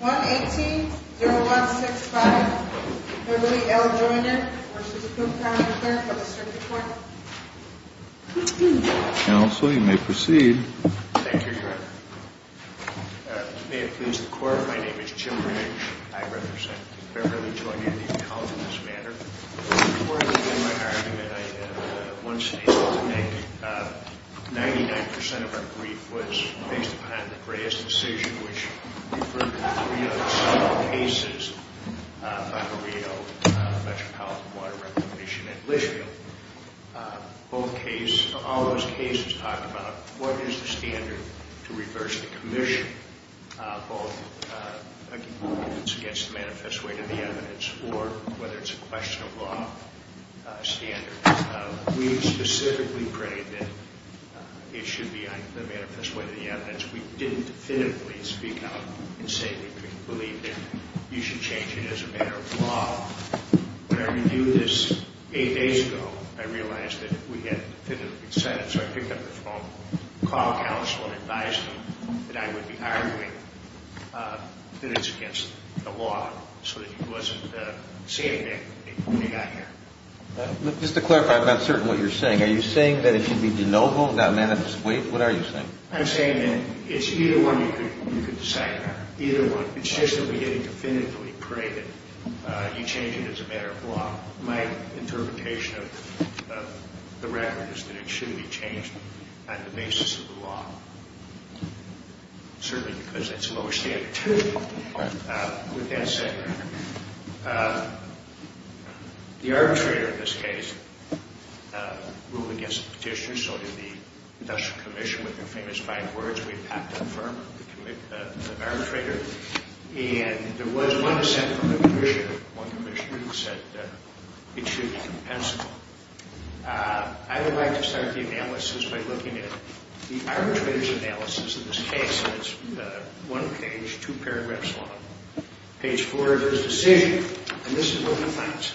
118-0165 Beverly L. Joiner v. Coop County Clerk of the Circuit Court Counsel, you may proceed. Thank you, Your Honor. May it please the Court, my name is Jim Green. I represent Beverly Joiner, the accountant in this matter. Before I begin my argument, I have one statement to make. 99% of our brief was based upon the Gray's decision, which referred to the three other similar cases by Marielle, Metropolitan Water Reclamation, and Litchfield. Both cases, all those cases talked about what is the standard to reverse the commission, both against the manifest way to the evidence, or whether it's a question of law standard. We specifically prayed that it should be on the manifest way to the evidence. We didn't definitively speak out and say we believe that you should change it as a matter of law. When I reviewed this eight days ago, I realized that we had definitively decided, so I picked up the phone, called counsel and advised him that I would be arguing that it's against the law so that he wasn't saying anything when he got here. Just to clarify, I'm not certain what you're saying. Are you saying that it should be de novo, not manifest way? What are you saying? I'm saying that it's either one you could decide, either one. It's just that we didn't definitively pray that you change it as a matter of law. My interpretation of the record is that it should be changed on the basis of the law, certainly because it's lower standard. With that said, the arbitrator in this case ruled against the petitioner, so did the industrial commission with their famous five words. We packed up the firm of the arbitrator, and there was one assent from the commissioner. One commissioner said that it should be compensable. I would like to start the analysis by looking at the arbitrator's analysis of this case. It's one page, two paragraphs long. Page four is his decision, and this is what he finds.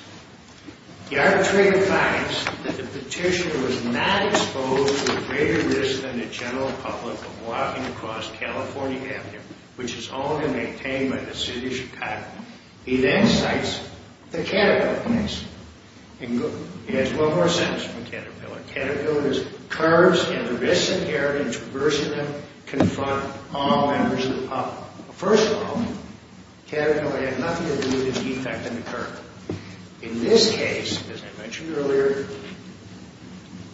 The arbitrator finds that the petitioner was not exposed to a greater risk than the general public of walking across California Avenue, which is owned and maintained by the city of Chicago. He then cites the caterpillar case. He has one more sentence from the caterpillar. Caterpillar's curves and the risks inherent in traversing them confront all members of the public. First of all, the caterpillar had nothing to do with its defect in the curve. In this case, as I mentioned earlier,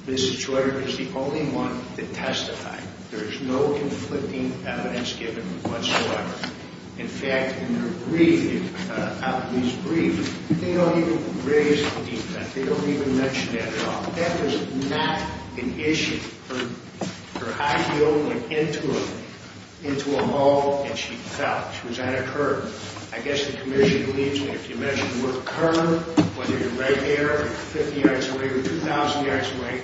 Mrs. Schroeder is the only one to testify. There is no conflicting evidence given whatsoever. In fact, in her brief, out of these briefs, they don't even raise the defect. They don't even mention that at all. The defect is not an issue. Her high heel went into a hole, and she fell. She was on a curve. I guess the commission believes that if you measure your curve, whether you're right here or 50 yards away or 2,000 yards away,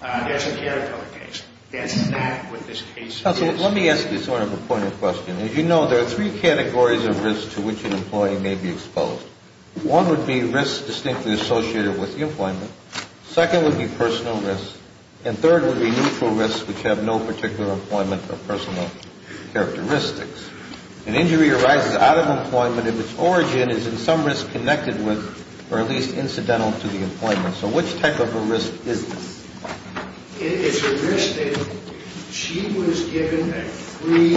that's a caterpillar case. That's not what this case is. Counsel, let me ask you sort of a poignant question. As you know, there are three categories of risk to which an employee may be exposed. One would be risks distinctly associated with the employment. Second would be personal risks. And third would be neutral risks which have no particular employment or personal characteristics. An injury arises out of employment if its origin is in some risk connected with or at least incidental to the employment. So which type of a risk is this? It's a risk that she was given a free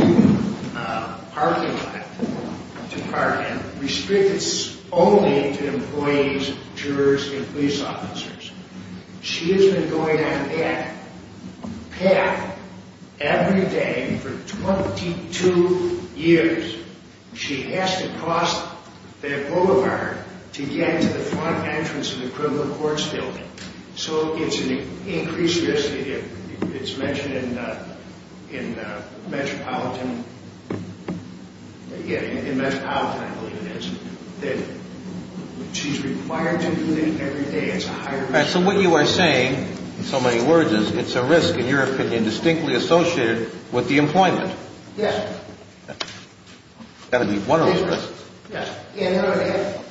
parking lot to park in, restricted only to employees, jurors, and police officers. She has been going on that path every day for 22 years. She has to cross that boulevard to get to the front entrance of the criminal courts building. So it's an increased risk. It's mentioned in Metropolitan, I believe it is, that she's required to do it every day. It's a higher risk. So what you are saying, in so many words, is it's a risk, in your opinion, distinctly associated with the employment. Yes. That would be one of those risks. Yes.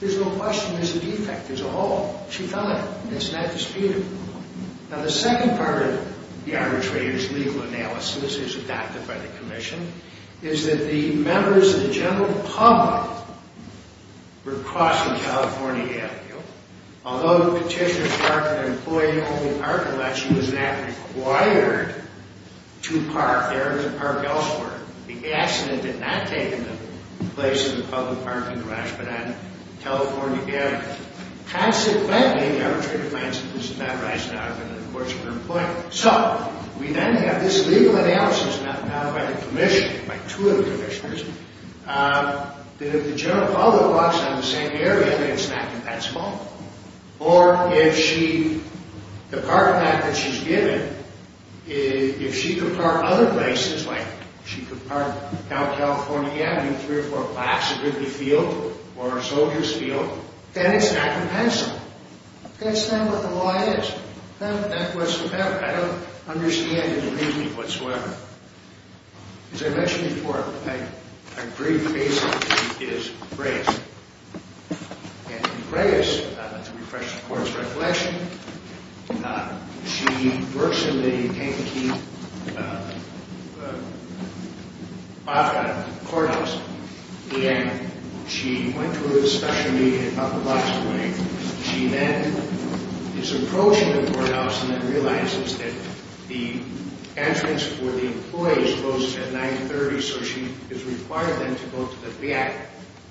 There's no question it's a defect as a whole. She thought it. It's not disputable. Now, the second part of the arbitrator's legal analysis, which is adopted by the Commission, is that the members of the general public were crossing California Avenue. Although the petitioner parked at an employee-only parking lot, she was not required to park there or to park elsewhere. The accident did not take place in a public parking garage, but at a California Avenue. Consequently, the arbitrator finds that this is not rising out of the courts of employment. So we then have this legal analysis, and that's adopted by the Commission, by two of the Commissioners, that if the general public walks down the same area, it's not that small. Or if she, the parking lot that she's given, if she could park other places, like she could park down California Avenue, three or four blocks, a good field, or a soldier's field, then it's not compensable. That's not what the law is. That was, I don't understand the reasoning whatsoever. As I mentioned before, I agree, basically, she is Reyes. And Reyes, to refresh the Court's reflection, she works in the Kentucky Courthouse, and she went to a discussion meeting at about the last morning. She then is approaching the courthouse and then realizes that the entrance for the employees closes at 9.30, so she is required then to go to the back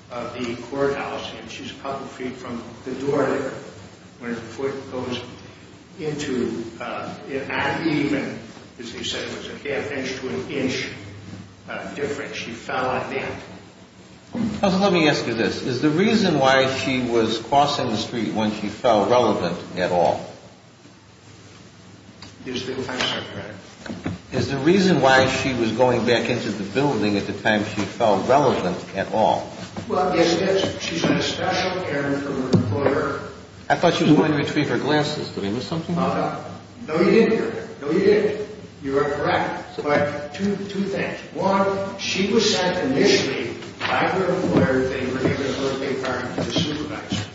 of the courthouse, and she's a couple of feet from the door, where the foot goes into, and even, as you said, it was a half inch to an inch difference. Counsel, let me ask you this. Is the reason why she was crossing the street when she fell relevant at all? Is the reason why she was going back into the building at the time she fell relevant at all? I thought she was going to retrieve her glasses. Did I miss something? No, you didn't. No, you didn't. You are correct. Correct. Two things. One, she was sent initially by her employer, they were going to put her in a car with the supervisor.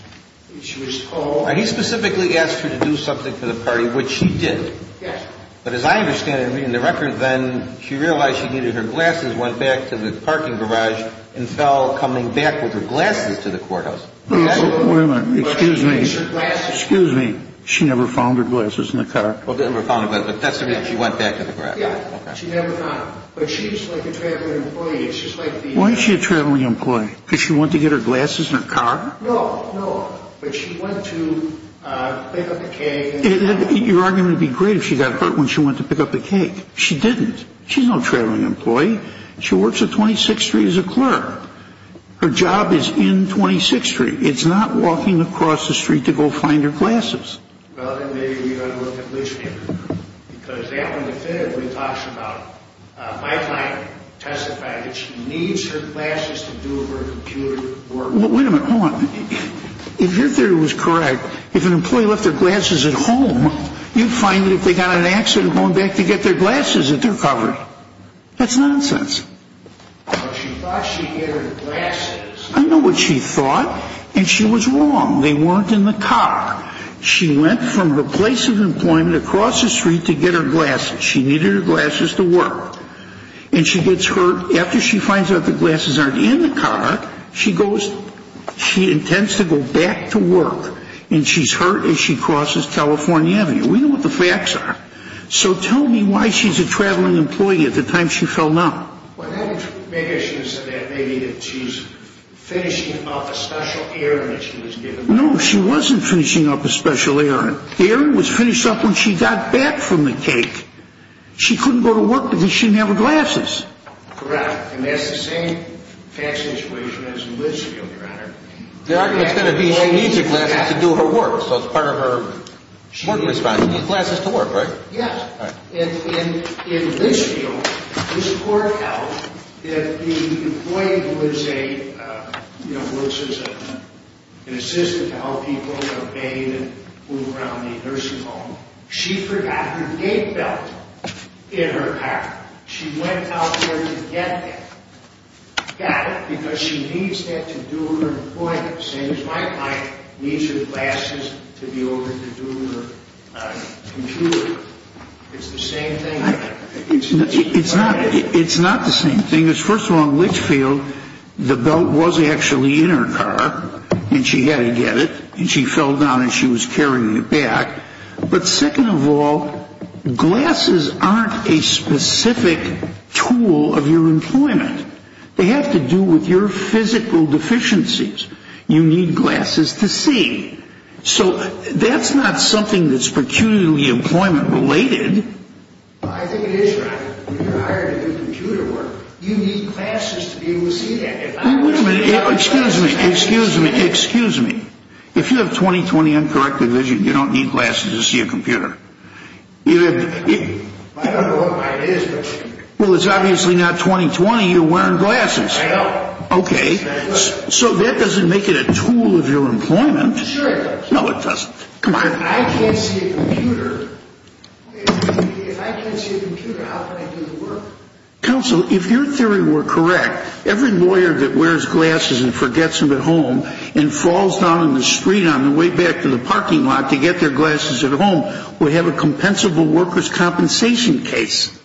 She was called. He specifically asked her to do something for the party, which she did. Yes. But as I understand it, in the record then, she realized she needed her glasses, went back to the parking garage, and fell coming back with her glasses to the courthouse. Wait a minute. Excuse me. Excuse me. She never found her glasses in the car. She never found her glasses. But that's to mean she went back to the garage. Yes. She never found them. But she was like a traveling employee. Why is she a traveling employee? Because she went to get her glasses in her car? No, no. But she went to pick up the cake. Your argument would be great if she got hurt when she went to pick up the cake. She didn't. She's no traveling employee. She works at 26th Street as a clerk. Her job is in 26th Street. It's not walking across the street to go find her glasses. Well, then maybe we ought to look at Litchfield. Because that one definitively talks about my client testifying that she needs her glasses to do her computer work. Wait a minute. Hold on. If your theory was correct, if an employee left their glasses at home, you'd find that if they got in an accident going back to get their glasses that they're covered. That's nonsense. But she thought she had her glasses. I know what she thought, and she was wrong. They weren't in the car. She went from the place of employment across the street to get her glasses. She needed her glasses to work. And she gets hurt. After she finds out the glasses aren't in the car, she goes, she intends to go back to work. And she's hurt as she crosses California Avenue. We know what the facts are. So tell me why she's a traveling employee at the time she fell down. Well, maybe she was finishing up a special errand that she was given. No, she wasn't finishing up a special errand. The errand was finished up when she got back from the cake. She couldn't go to work because she didn't have her glasses. Correct. And that's the same fact situation as in Litchfield, Your Honor. The argument is going to be she needs her glasses to do her work. So it's part of her work response. She needs glasses to work, right? Yes. In Litchfield, this court held that the employee was a, you know, was an assistant to help people bathe and move around the nursing home. She forgot her gate belt in her car. She went out there to get that. Got it because she needs that to do her employment. Same as my client needs her glasses to be able to do her computer. It's the same thing. It's not the same thing. First of all, in Litchfield, the belt was actually in her car, and she had to get it. And she fell down, and she was carrying it back. But second of all, glasses aren't a specific tool of your employment. They have to do with your physical deficiencies. You need glasses to see. So that's not something that's peculiarly employment related. I think it is, Your Honor. You're hired to do computer work. You need glasses to be able to see that. Wait a minute. Excuse me. Excuse me. Excuse me. If you have 20-20 uncorrected vision, you don't need glasses to see a computer. I don't know why it is, but. Well, it's obviously not 20-20. You're wearing glasses. I know. Okay. So that doesn't make it a tool of your employment. Sure it does. No, it doesn't. I can't see a computer. If I can't see a computer, how can I do the work? Counsel, if your theory were correct, every lawyer that wears glasses and forgets them at home and falls down in the street on the way back to the parking lot to get their glasses at home would have a compensable workers' compensation case.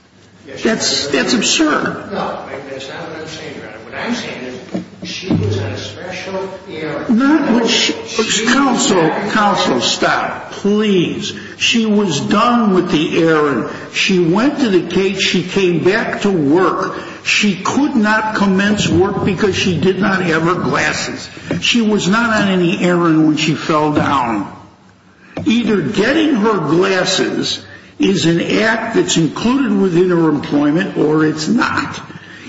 That's absurd. No, that's not what I'm saying, Your Honor. What I'm saying is she was on a special errand. Counsel, stop. Please. She was done with the errand. She went to the gate. She came back to work. She could not commence work because she did not have her glasses. She was not on any errand when she fell down. Either getting her glasses is an act that's included within her employment or it's not.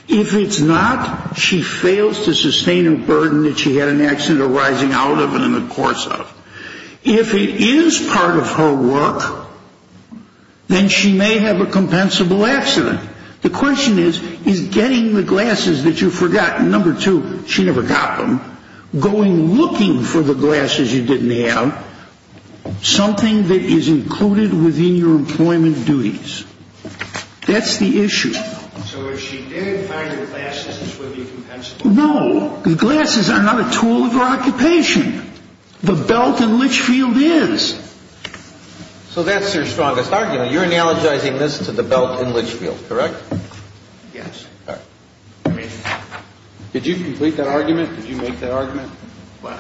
If it's not, she fails to sustain a burden that she had an accident arising out of and in the course of. If it is part of her work, then she may have a compensable accident. The question is, is getting the glasses that you forgot, number two, she never got them, going looking for the glasses you didn't have, something that is included within your employment duties. That's the issue. So if she did find the glasses, it would be compensable. No. The glasses are not a tool of her occupation. The belt in Litchfield is. So that's your strongest argument. You're analogizing this to the belt in Litchfield, correct? Yes. All right. Did you complete that argument? Did you make that argument? What?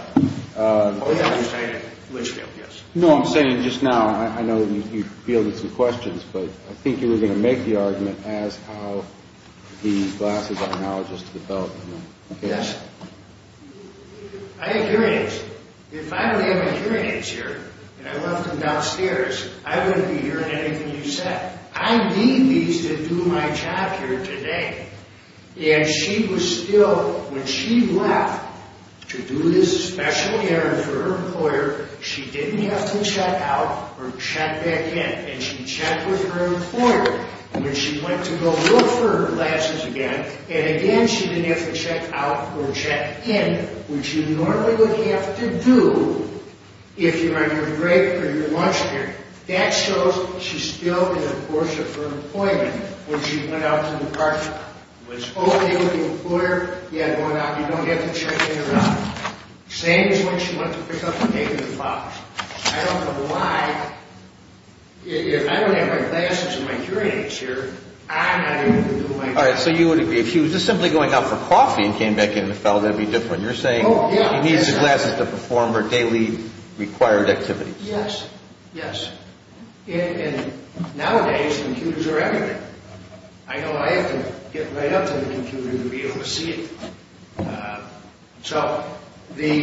Oh, yeah, I just made it. Litchfield, yes. You know what I'm saying, just now, I know you fielded some questions, but I think you were going to make the argument as how the glasses are analogous to the belt. Yes. I have hearing aids. If I didn't have my hearing aids here and I left them downstairs, I wouldn't be hearing anything you said. I need these to do my job here today. And she was still, when she left to do this special errand for her employer, she didn't have to check out or check back in, and she checked with her employer when she went to go look for her glasses again, and again she didn't have to check out or check in, which you normally would have to do if you're on your break or your lunch period. That shows she's still in the course of her employment when she went out to the parking lot, was open to the employer, yet going out. You don't have to check in or out. Same as when she went to pick up a paper box. I don't know why, if I don't have my glasses and my hearing aids here, I'm not able to do my job. All right, so you would agree. If she was just simply going out for coffee and came back in and fell, that would be different. You're saying she needs the glasses to perform her daily required activities. Yes. Yes. And nowadays, computers are everywhere. I know I have to get right up to the computer to be able to see it. So the –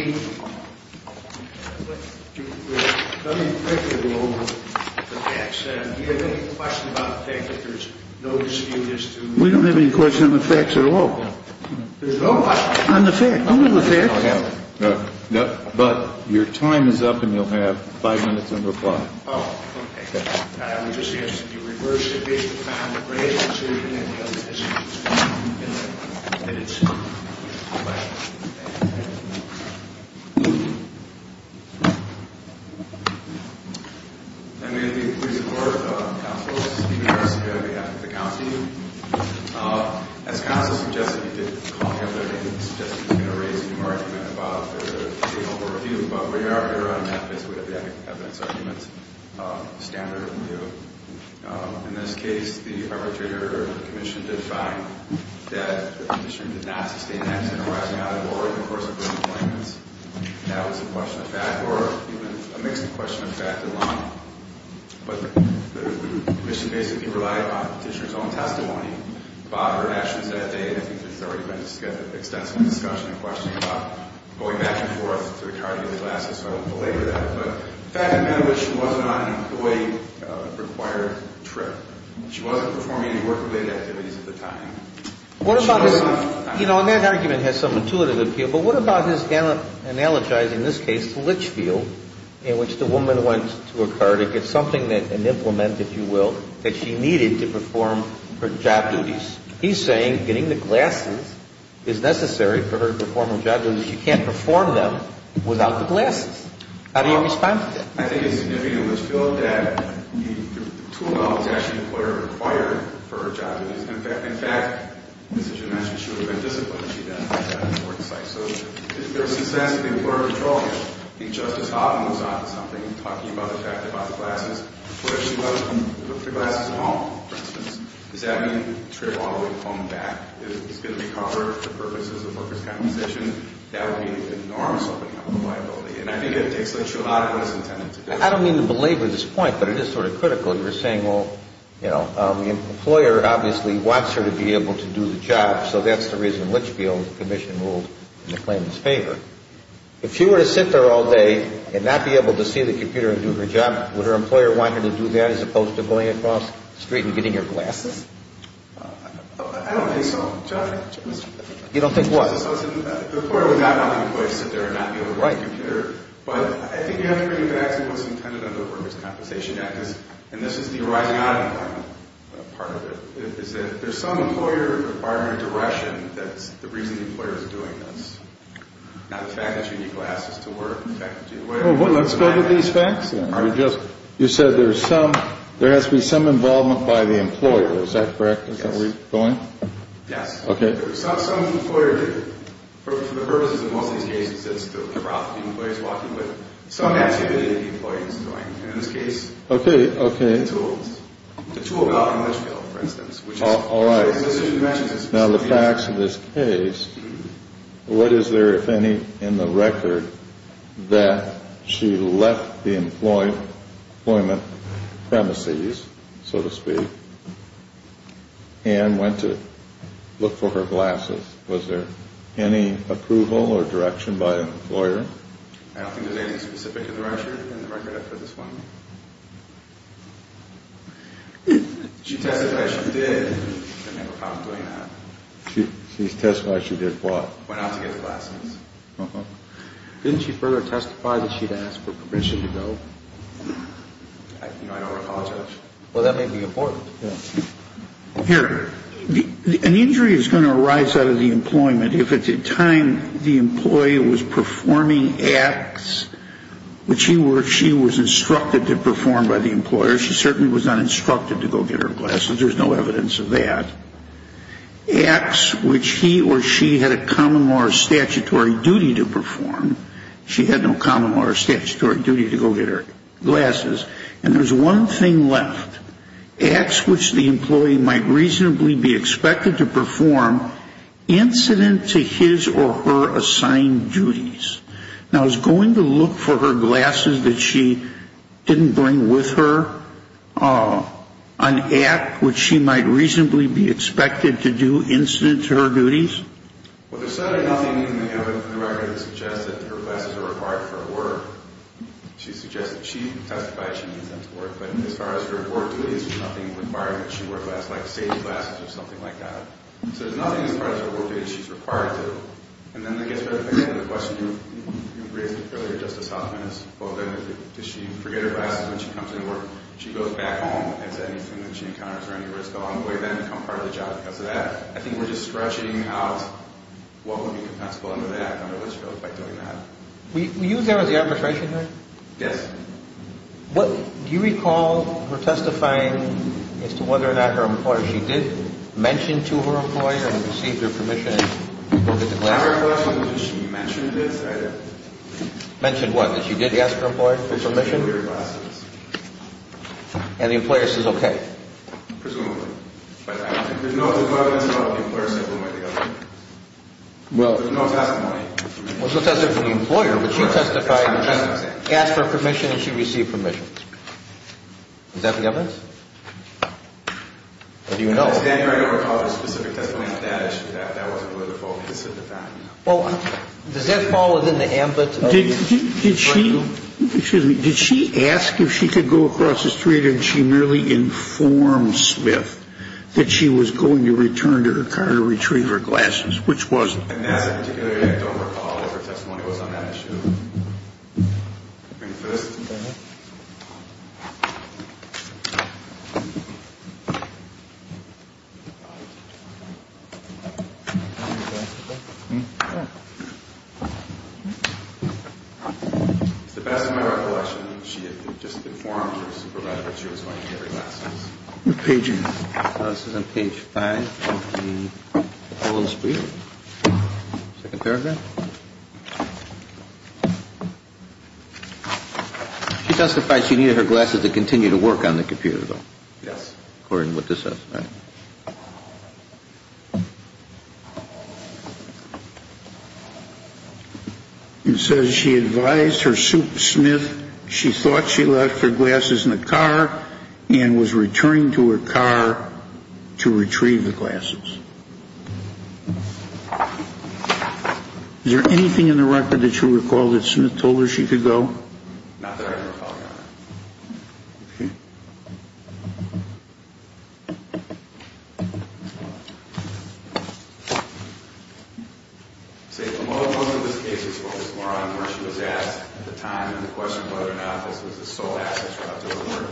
let me quickly go over the facts. Do you have any question about the fact that there's no dispute as to – We don't have any question on the facts at all. There's no question. On the facts. Only the facts. But your time is up, and you'll have five minutes to reply. Oh, okay. I would just be interested if you reversed the case. You found the grades, the children, and the other issues. And it's – I'm going to be brief. First, counsel, this is Peter Russica on behalf of the county. Thank you. As counsel suggested, you did call me up there. You suggested you were going to raise a new argument about the table for review. But we are here on a map, so we have the evidence arguments, standard review. In this case, the arbitrator, the commission, did find that the petitioner did not sustain an accident or rising out of the ward in the course of her deployments. But the commission basically relied on the petitioner's own testimony. Bob heard actions that day, and I think there's already been extensive discussion and questioning about going back and forth to the county of Alaska, so I don't belabor that. But the fact of the matter is she wasn't on a deploy-required trip. She wasn't performing any work-related activities at the time. What about this – You know, and that argument has some intuitive appeal, but what about this analogizing this case to Litchfield, in which the woman went to a car to get something, an implement, if you will, that she needed to perform her job duties? He's saying getting the glasses is necessary for her to perform her job duties. She can't perform them without the glasses. How do you respond to that? I think it's significant, Litchfield, that the tool belt was actually deploy-required for her job duties. In fact, as you mentioned, she would have been disciplined if she had done that on the work site. So if there was a sense that the employer would control her, if Justice Hoffman was on to something, talking about the fact about the glasses, what if she left the glasses at home, for instance, does that mean the trip all the way home back is going to be covered for purposes of workers' compensation? That would be an enormous opening up of liability. And I think that takes Litchfield out of what he's intended to do. I don't mean to belabor this point, but it is sort of critical. You're saying, well, you know, the employer obviously wants her to be able to do the job, so that's the reason Litchfield's commission ruled in the claimant's favor. If she were to sit there all day and not be able to see the computer and do her job, would her employer want her to do that as opposed to going across the street and getting your glasses? I don't think so, John. You don't think what? The employer would not want the employer to sit there and not be able to see the computer. But I think you have to really get at what's intended under the Workers' Compensation Act, and this is the arising out of the department part of it, is that there's some employer requirement or direction that's the reason the employer is doing this. Not the fact that you need glasses to work. Let's go to these facts, then. You said there has to be some involvement by the employer. Is that correct? Yes. Is that where you're going? Yes. Okay. For the purposes of most of these cases, it's the route the employer's walking, but some activity the employer is doing. In this case, the tools. The tool about English field, for instance. All right. Now, the facts of this case, what is there, if any, in the record, that she left the employment premises, so to speak, and went to look for her glasses? I don't think there's anything specific in the record. In the record, I've put this one. She testified she did. I never found her doing that. She testified she did what? Went out to get her glasses. Didn't she further testify that she'd asked for permission to go? You know, I don't recognize her. Well, that may be important. Yes. Here. An injury is going to arise out of the employment. If at the time the employee was performing acts which she was instructed to perform by the employer, she certainly was not instructed to go get her glasses. There's no evidence of that. Acts which he or she had a common law or statutory duty to perform. She had no common law or statutory duty to go get her glasses. And there's one thing left. Acts which the employee might reasonably be expected to perform incident to his or her assigned duties. Now, is going to look for her glasses that she didn't bring with her an act which she might reasonably be expected to do incident to her duties? Well, there's certainly nothing in the record that suggests that her glasses are required for her work. She suggested she testified she needs them to work. But as far as her work duties, there's nothing requiring that she wear glasses, like safety glasses or something like that. So there's nothing as far as her work duties she's required to. And then I guess the question you raised earlier, Justice Hoffman, is does she forget her glasses when she comes into work? She goes back home. Is there anything that she encounters or any risk along the way then to become part of the job because of that? I think we're just stretching out what would be compensable under the act, under which goes by doing that. Were you there at the arbitration hearing? Yes. Do you recall her testifying as to whether or not her employer, she did mention to her employer and received her permission to go get the glasses? I have a question. Did she mention this? Mention what? That she did ask her employer for permission? To bring her glasses. And the employer says okay? Presumably. But there's no evidence at all that the employer said one way or the other. Well. There's no testimony. There's no testimony from the employer. But she testified and asked for permission and she received permission. Is that the evidence? Or do you know? I don't recall a specific testimony on that issue. That wasn't really the fault. It's just a fact. Well, does that fall within the ambit of your brain? Excuse me. Did she ask if she could go across the street and she merely informed Smith that she was going to return to her car to retrieve her glasses, which wasn't? And that's a particularity I don't recall if her testimony was on that issue. Do you agree with this? Mm-hmm. It's the best of my recollection. She had just informed her supervisor that she was going to get her glasses. What page is this? This is on page five. She testified she needed her glasses to continue to work on the computer. Yes. According with this. And so she advised her super Smith. She thought she left her glasses in the car and was returning to her car to retrieve the glasses. Is there anything in the record that you recall that Smith told her she could go? Not that I can recall, Your Honor. Okay. See, a lot of this case is focused more on where she was asked at the time and the question of whether or not this was the sole access route to her work.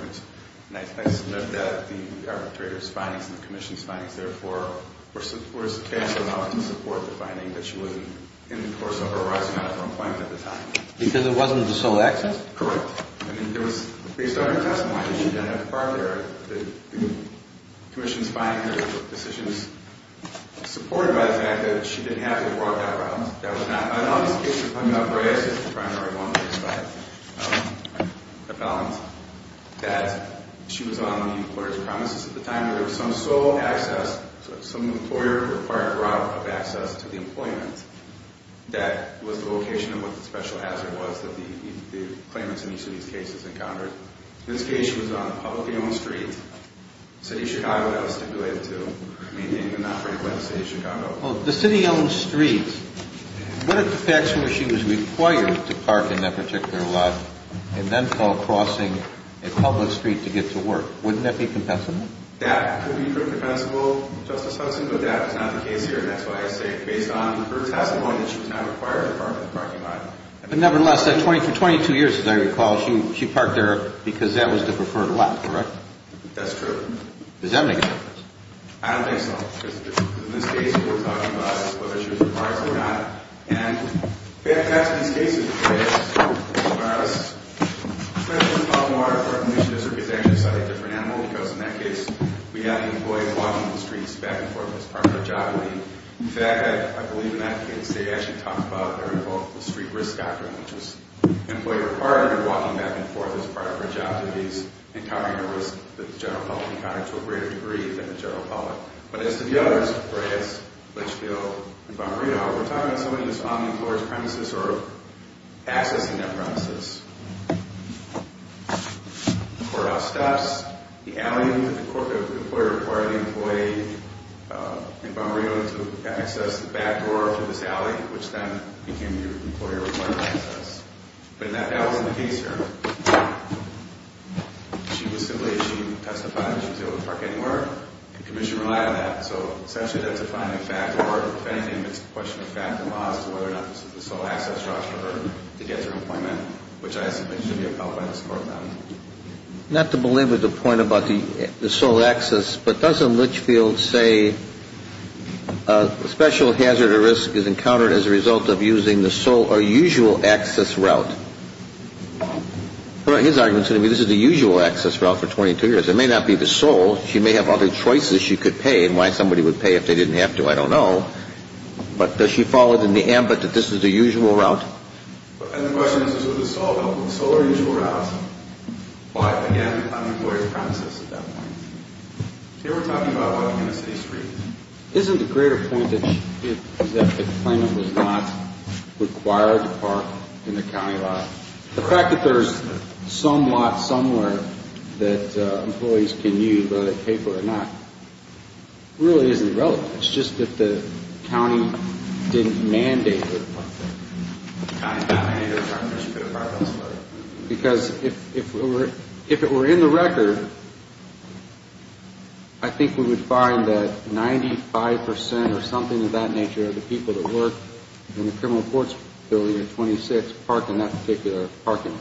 And I submit that the arbitrator's findings and the commission's findings, therefore, were substantial enough to support the finding that she wasn't in the course of her rising out of her employment at the time. Because it wasn't the sole access? Correct. I mean, there was, based on her testimony, she didn't have to park there. The commission's findings were decisions supported by the fact that she didn't have to walk that route. That was not, in all these cases, I'm not going to say it's the primary one, but I found that she was on the employer's premises at the time. There was some sole access, some employer required route of access to the employment. That was the location of what the special hazard was that the claimants in each of these cases encountered. In this case, she was on a publicly owned street, City of Chicago, that was stipulated to. I mean, they didn't operate by the City of Chicago. Well, the city-owned streets. What if the facts were she was required to park in that particular lot and then fell crossing a public street to get to work? Wouldn't that be compensable? That would be pretty compensable, Justice Hudson, but that was not the case here. And that's why I say, based on her testimony, that she was not required to park in the parking lot. But nevertheless, for 22 years, as I recall, she parked there because that was the preferred lot, correct? That's true. Does that make a difference? I don't think so. Because in this case, what we're talking about is whether she was required to or not. And perhaps in these cases, for us, perhaps it's a lot more important that we actually study a different animal, because in that case, we have the employee walking the streets back and forth as part of her job duty. In fact, I believe in that case, they actually talk about the street risk doctrine, which was the employee required to be walking back and forth as part of her job duties and covering the risk that the general public encountered to a greater degree than the general public. But as to the others, for instance, Litchfield and Bomarito, we're talking about somebody who's on the employer's premises or accessing that premises. The courthouse stops, the alley that the employer required the employee in Bomarito to access, the back door through this alley, which then became the employer-required access. But that wasn't the case here. She was simply, she testified that she was able to park anywhere. The commission relied on that. So essentially, that's a defining fact, or if anything, it's a question of fact and law as to whether or not this is the sole access route for her to get to her employment, which I assume should be upheld by this court now. Not to belabor the point about the sole access, but doesn't Litchfield say a special hazard or risk is encountered as a result of using the sole or usual access route? His argument is going to be this is the usual access route for 22 years. It may not be the sole. She may have other choices she could pay and why somebody would pay if they didn't have to. I don't know. But does she follow it in the ambit that this is the usual route? And the question is, is it the sole route? The sole or usual route? Why, again, on the employer's premises at that point. Here we're talking about a community street. Isn't the greater point that she gives is that the claimant was not required to park in the county lot? The fact that there's some lot somewhere that employees can use whether they pay for it or not really isn't relevant. It's just that the county didn't mandate it. Because if it were in the record, I think we would find that 95 percent or something of that nature the people that work in the criminal courts building in 26 park in that particular parking lot.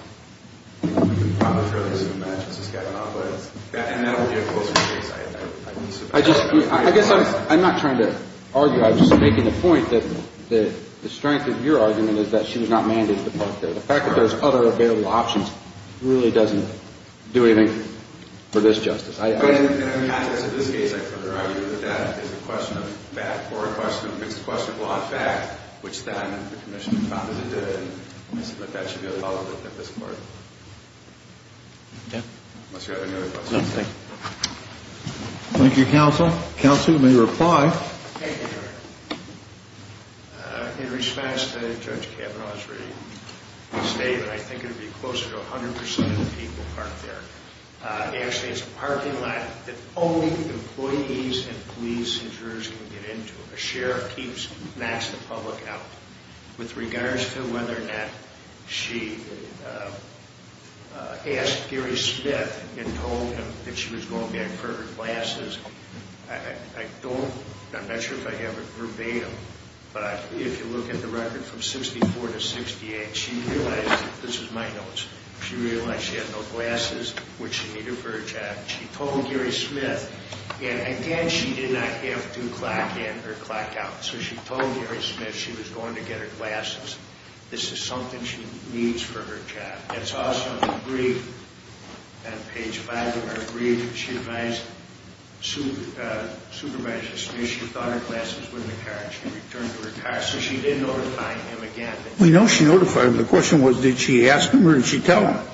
I guess I'm not trying to argue. I'm just making the point that the strength of your argument is that she was not mandated to park there. The fact that there's other available options really doesn't do anything for this justice. In the context of this case, I further argue that that is a question of fact or a question of law and fact which then the commission found that it did. I submit that should be a follow-up at this point. Unless you have any other questions. No, thank you. Thank you, counsel. Counsel, you may reply. In response to Judge Kavanaugh's statement, I think it would be closer to 100 percent of the people park there. Actually, it's a parking lot that only employees and police and jurors can get into. A sheriff knocks the public out. With regards to whether or not she asked Gary Smith and told him that she was going back for her glasses, I don't, I'm not sure if I have it verbatim, but if you look at the record from 64 to 68, she realized, this is my notes, she realized she had no glasses, which she needed for her job. She told Gary Smith, and again, she did not have to clock in or clock out, so she told Gary Smith she was going to get her glasses. This is something she needs for her job. It's also in the brief, on page 5 of her brief, she advised Supervisor Smith she thought her glasses were in the car and she returned to her car, so she did notify him again. We know she notified him. The question was, did she ask him or did she tell him?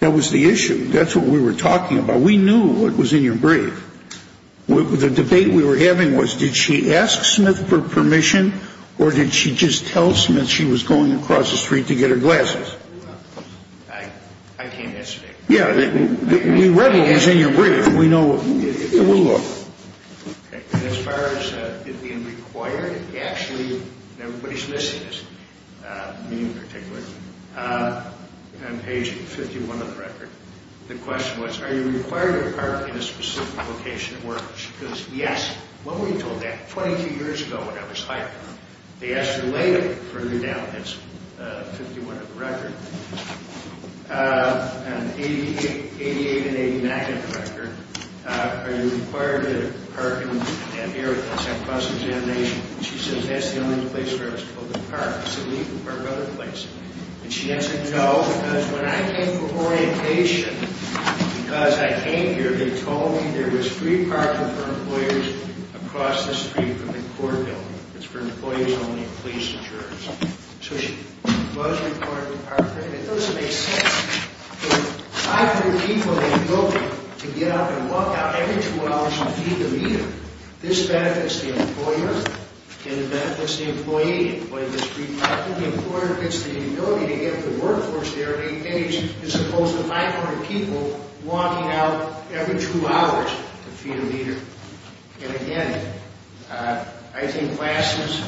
That was the issue. That's what we were talking about. We knew what was in your brief. The debate we were having was, did she ask Smith for permission or did she just tell Smith she was going across the street to get her glasses? I can't answer that. Yeah, we read what was in your brief. We know, we'll look. As far as being required, actually, everybody's missing this, me in particular. On page 51 of the record, the question was, are you required to park in a specific location at work? She goes, yes. When were you told that? Twenty-two years ago when I was hired. They asked her later, further down. That's 51 of the record. And 88 and 89 of the record. Are you required to park in areas across the generation? She says, that's the only place where I was told to park. I said, we can park other places. And she answered, no, because when I came for orientation, because I came here, they told me there was free parking for employers across the street from the court building. It's for employees only, police and jurors. So she was required to park there. And it doesn't make sense. There's 500 people in the building to get up and walk out every two hours and feed the meter. This benefits the employer, and it benefits the employee. Employee gets free parking. The employer gets the ability to get up to the workforce there in eight days, as opposed to 500 people walking out every two hours to feed a meter. And, again, I think classes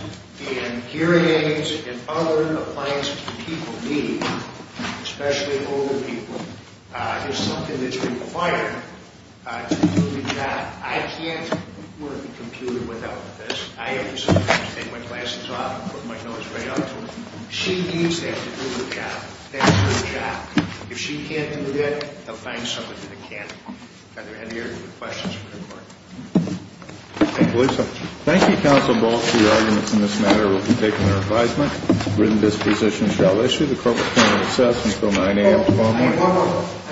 and hearing aids and other appliances that people need, especially older people, is something that's required to do the job. I can't work the computer without this. I have to sometimes take my glasses off and put my nose right up to it. She needs that to do the job. That's her job. If she can't do that, they'll find someone that can. Are there any other questions for the court? I believe so. Thank you, Counsel Ball. Two arguments in this matter will be taken in our advisement. Written disposition shall issue. The court will continue to assess until 9 a.m. tomorrow morning.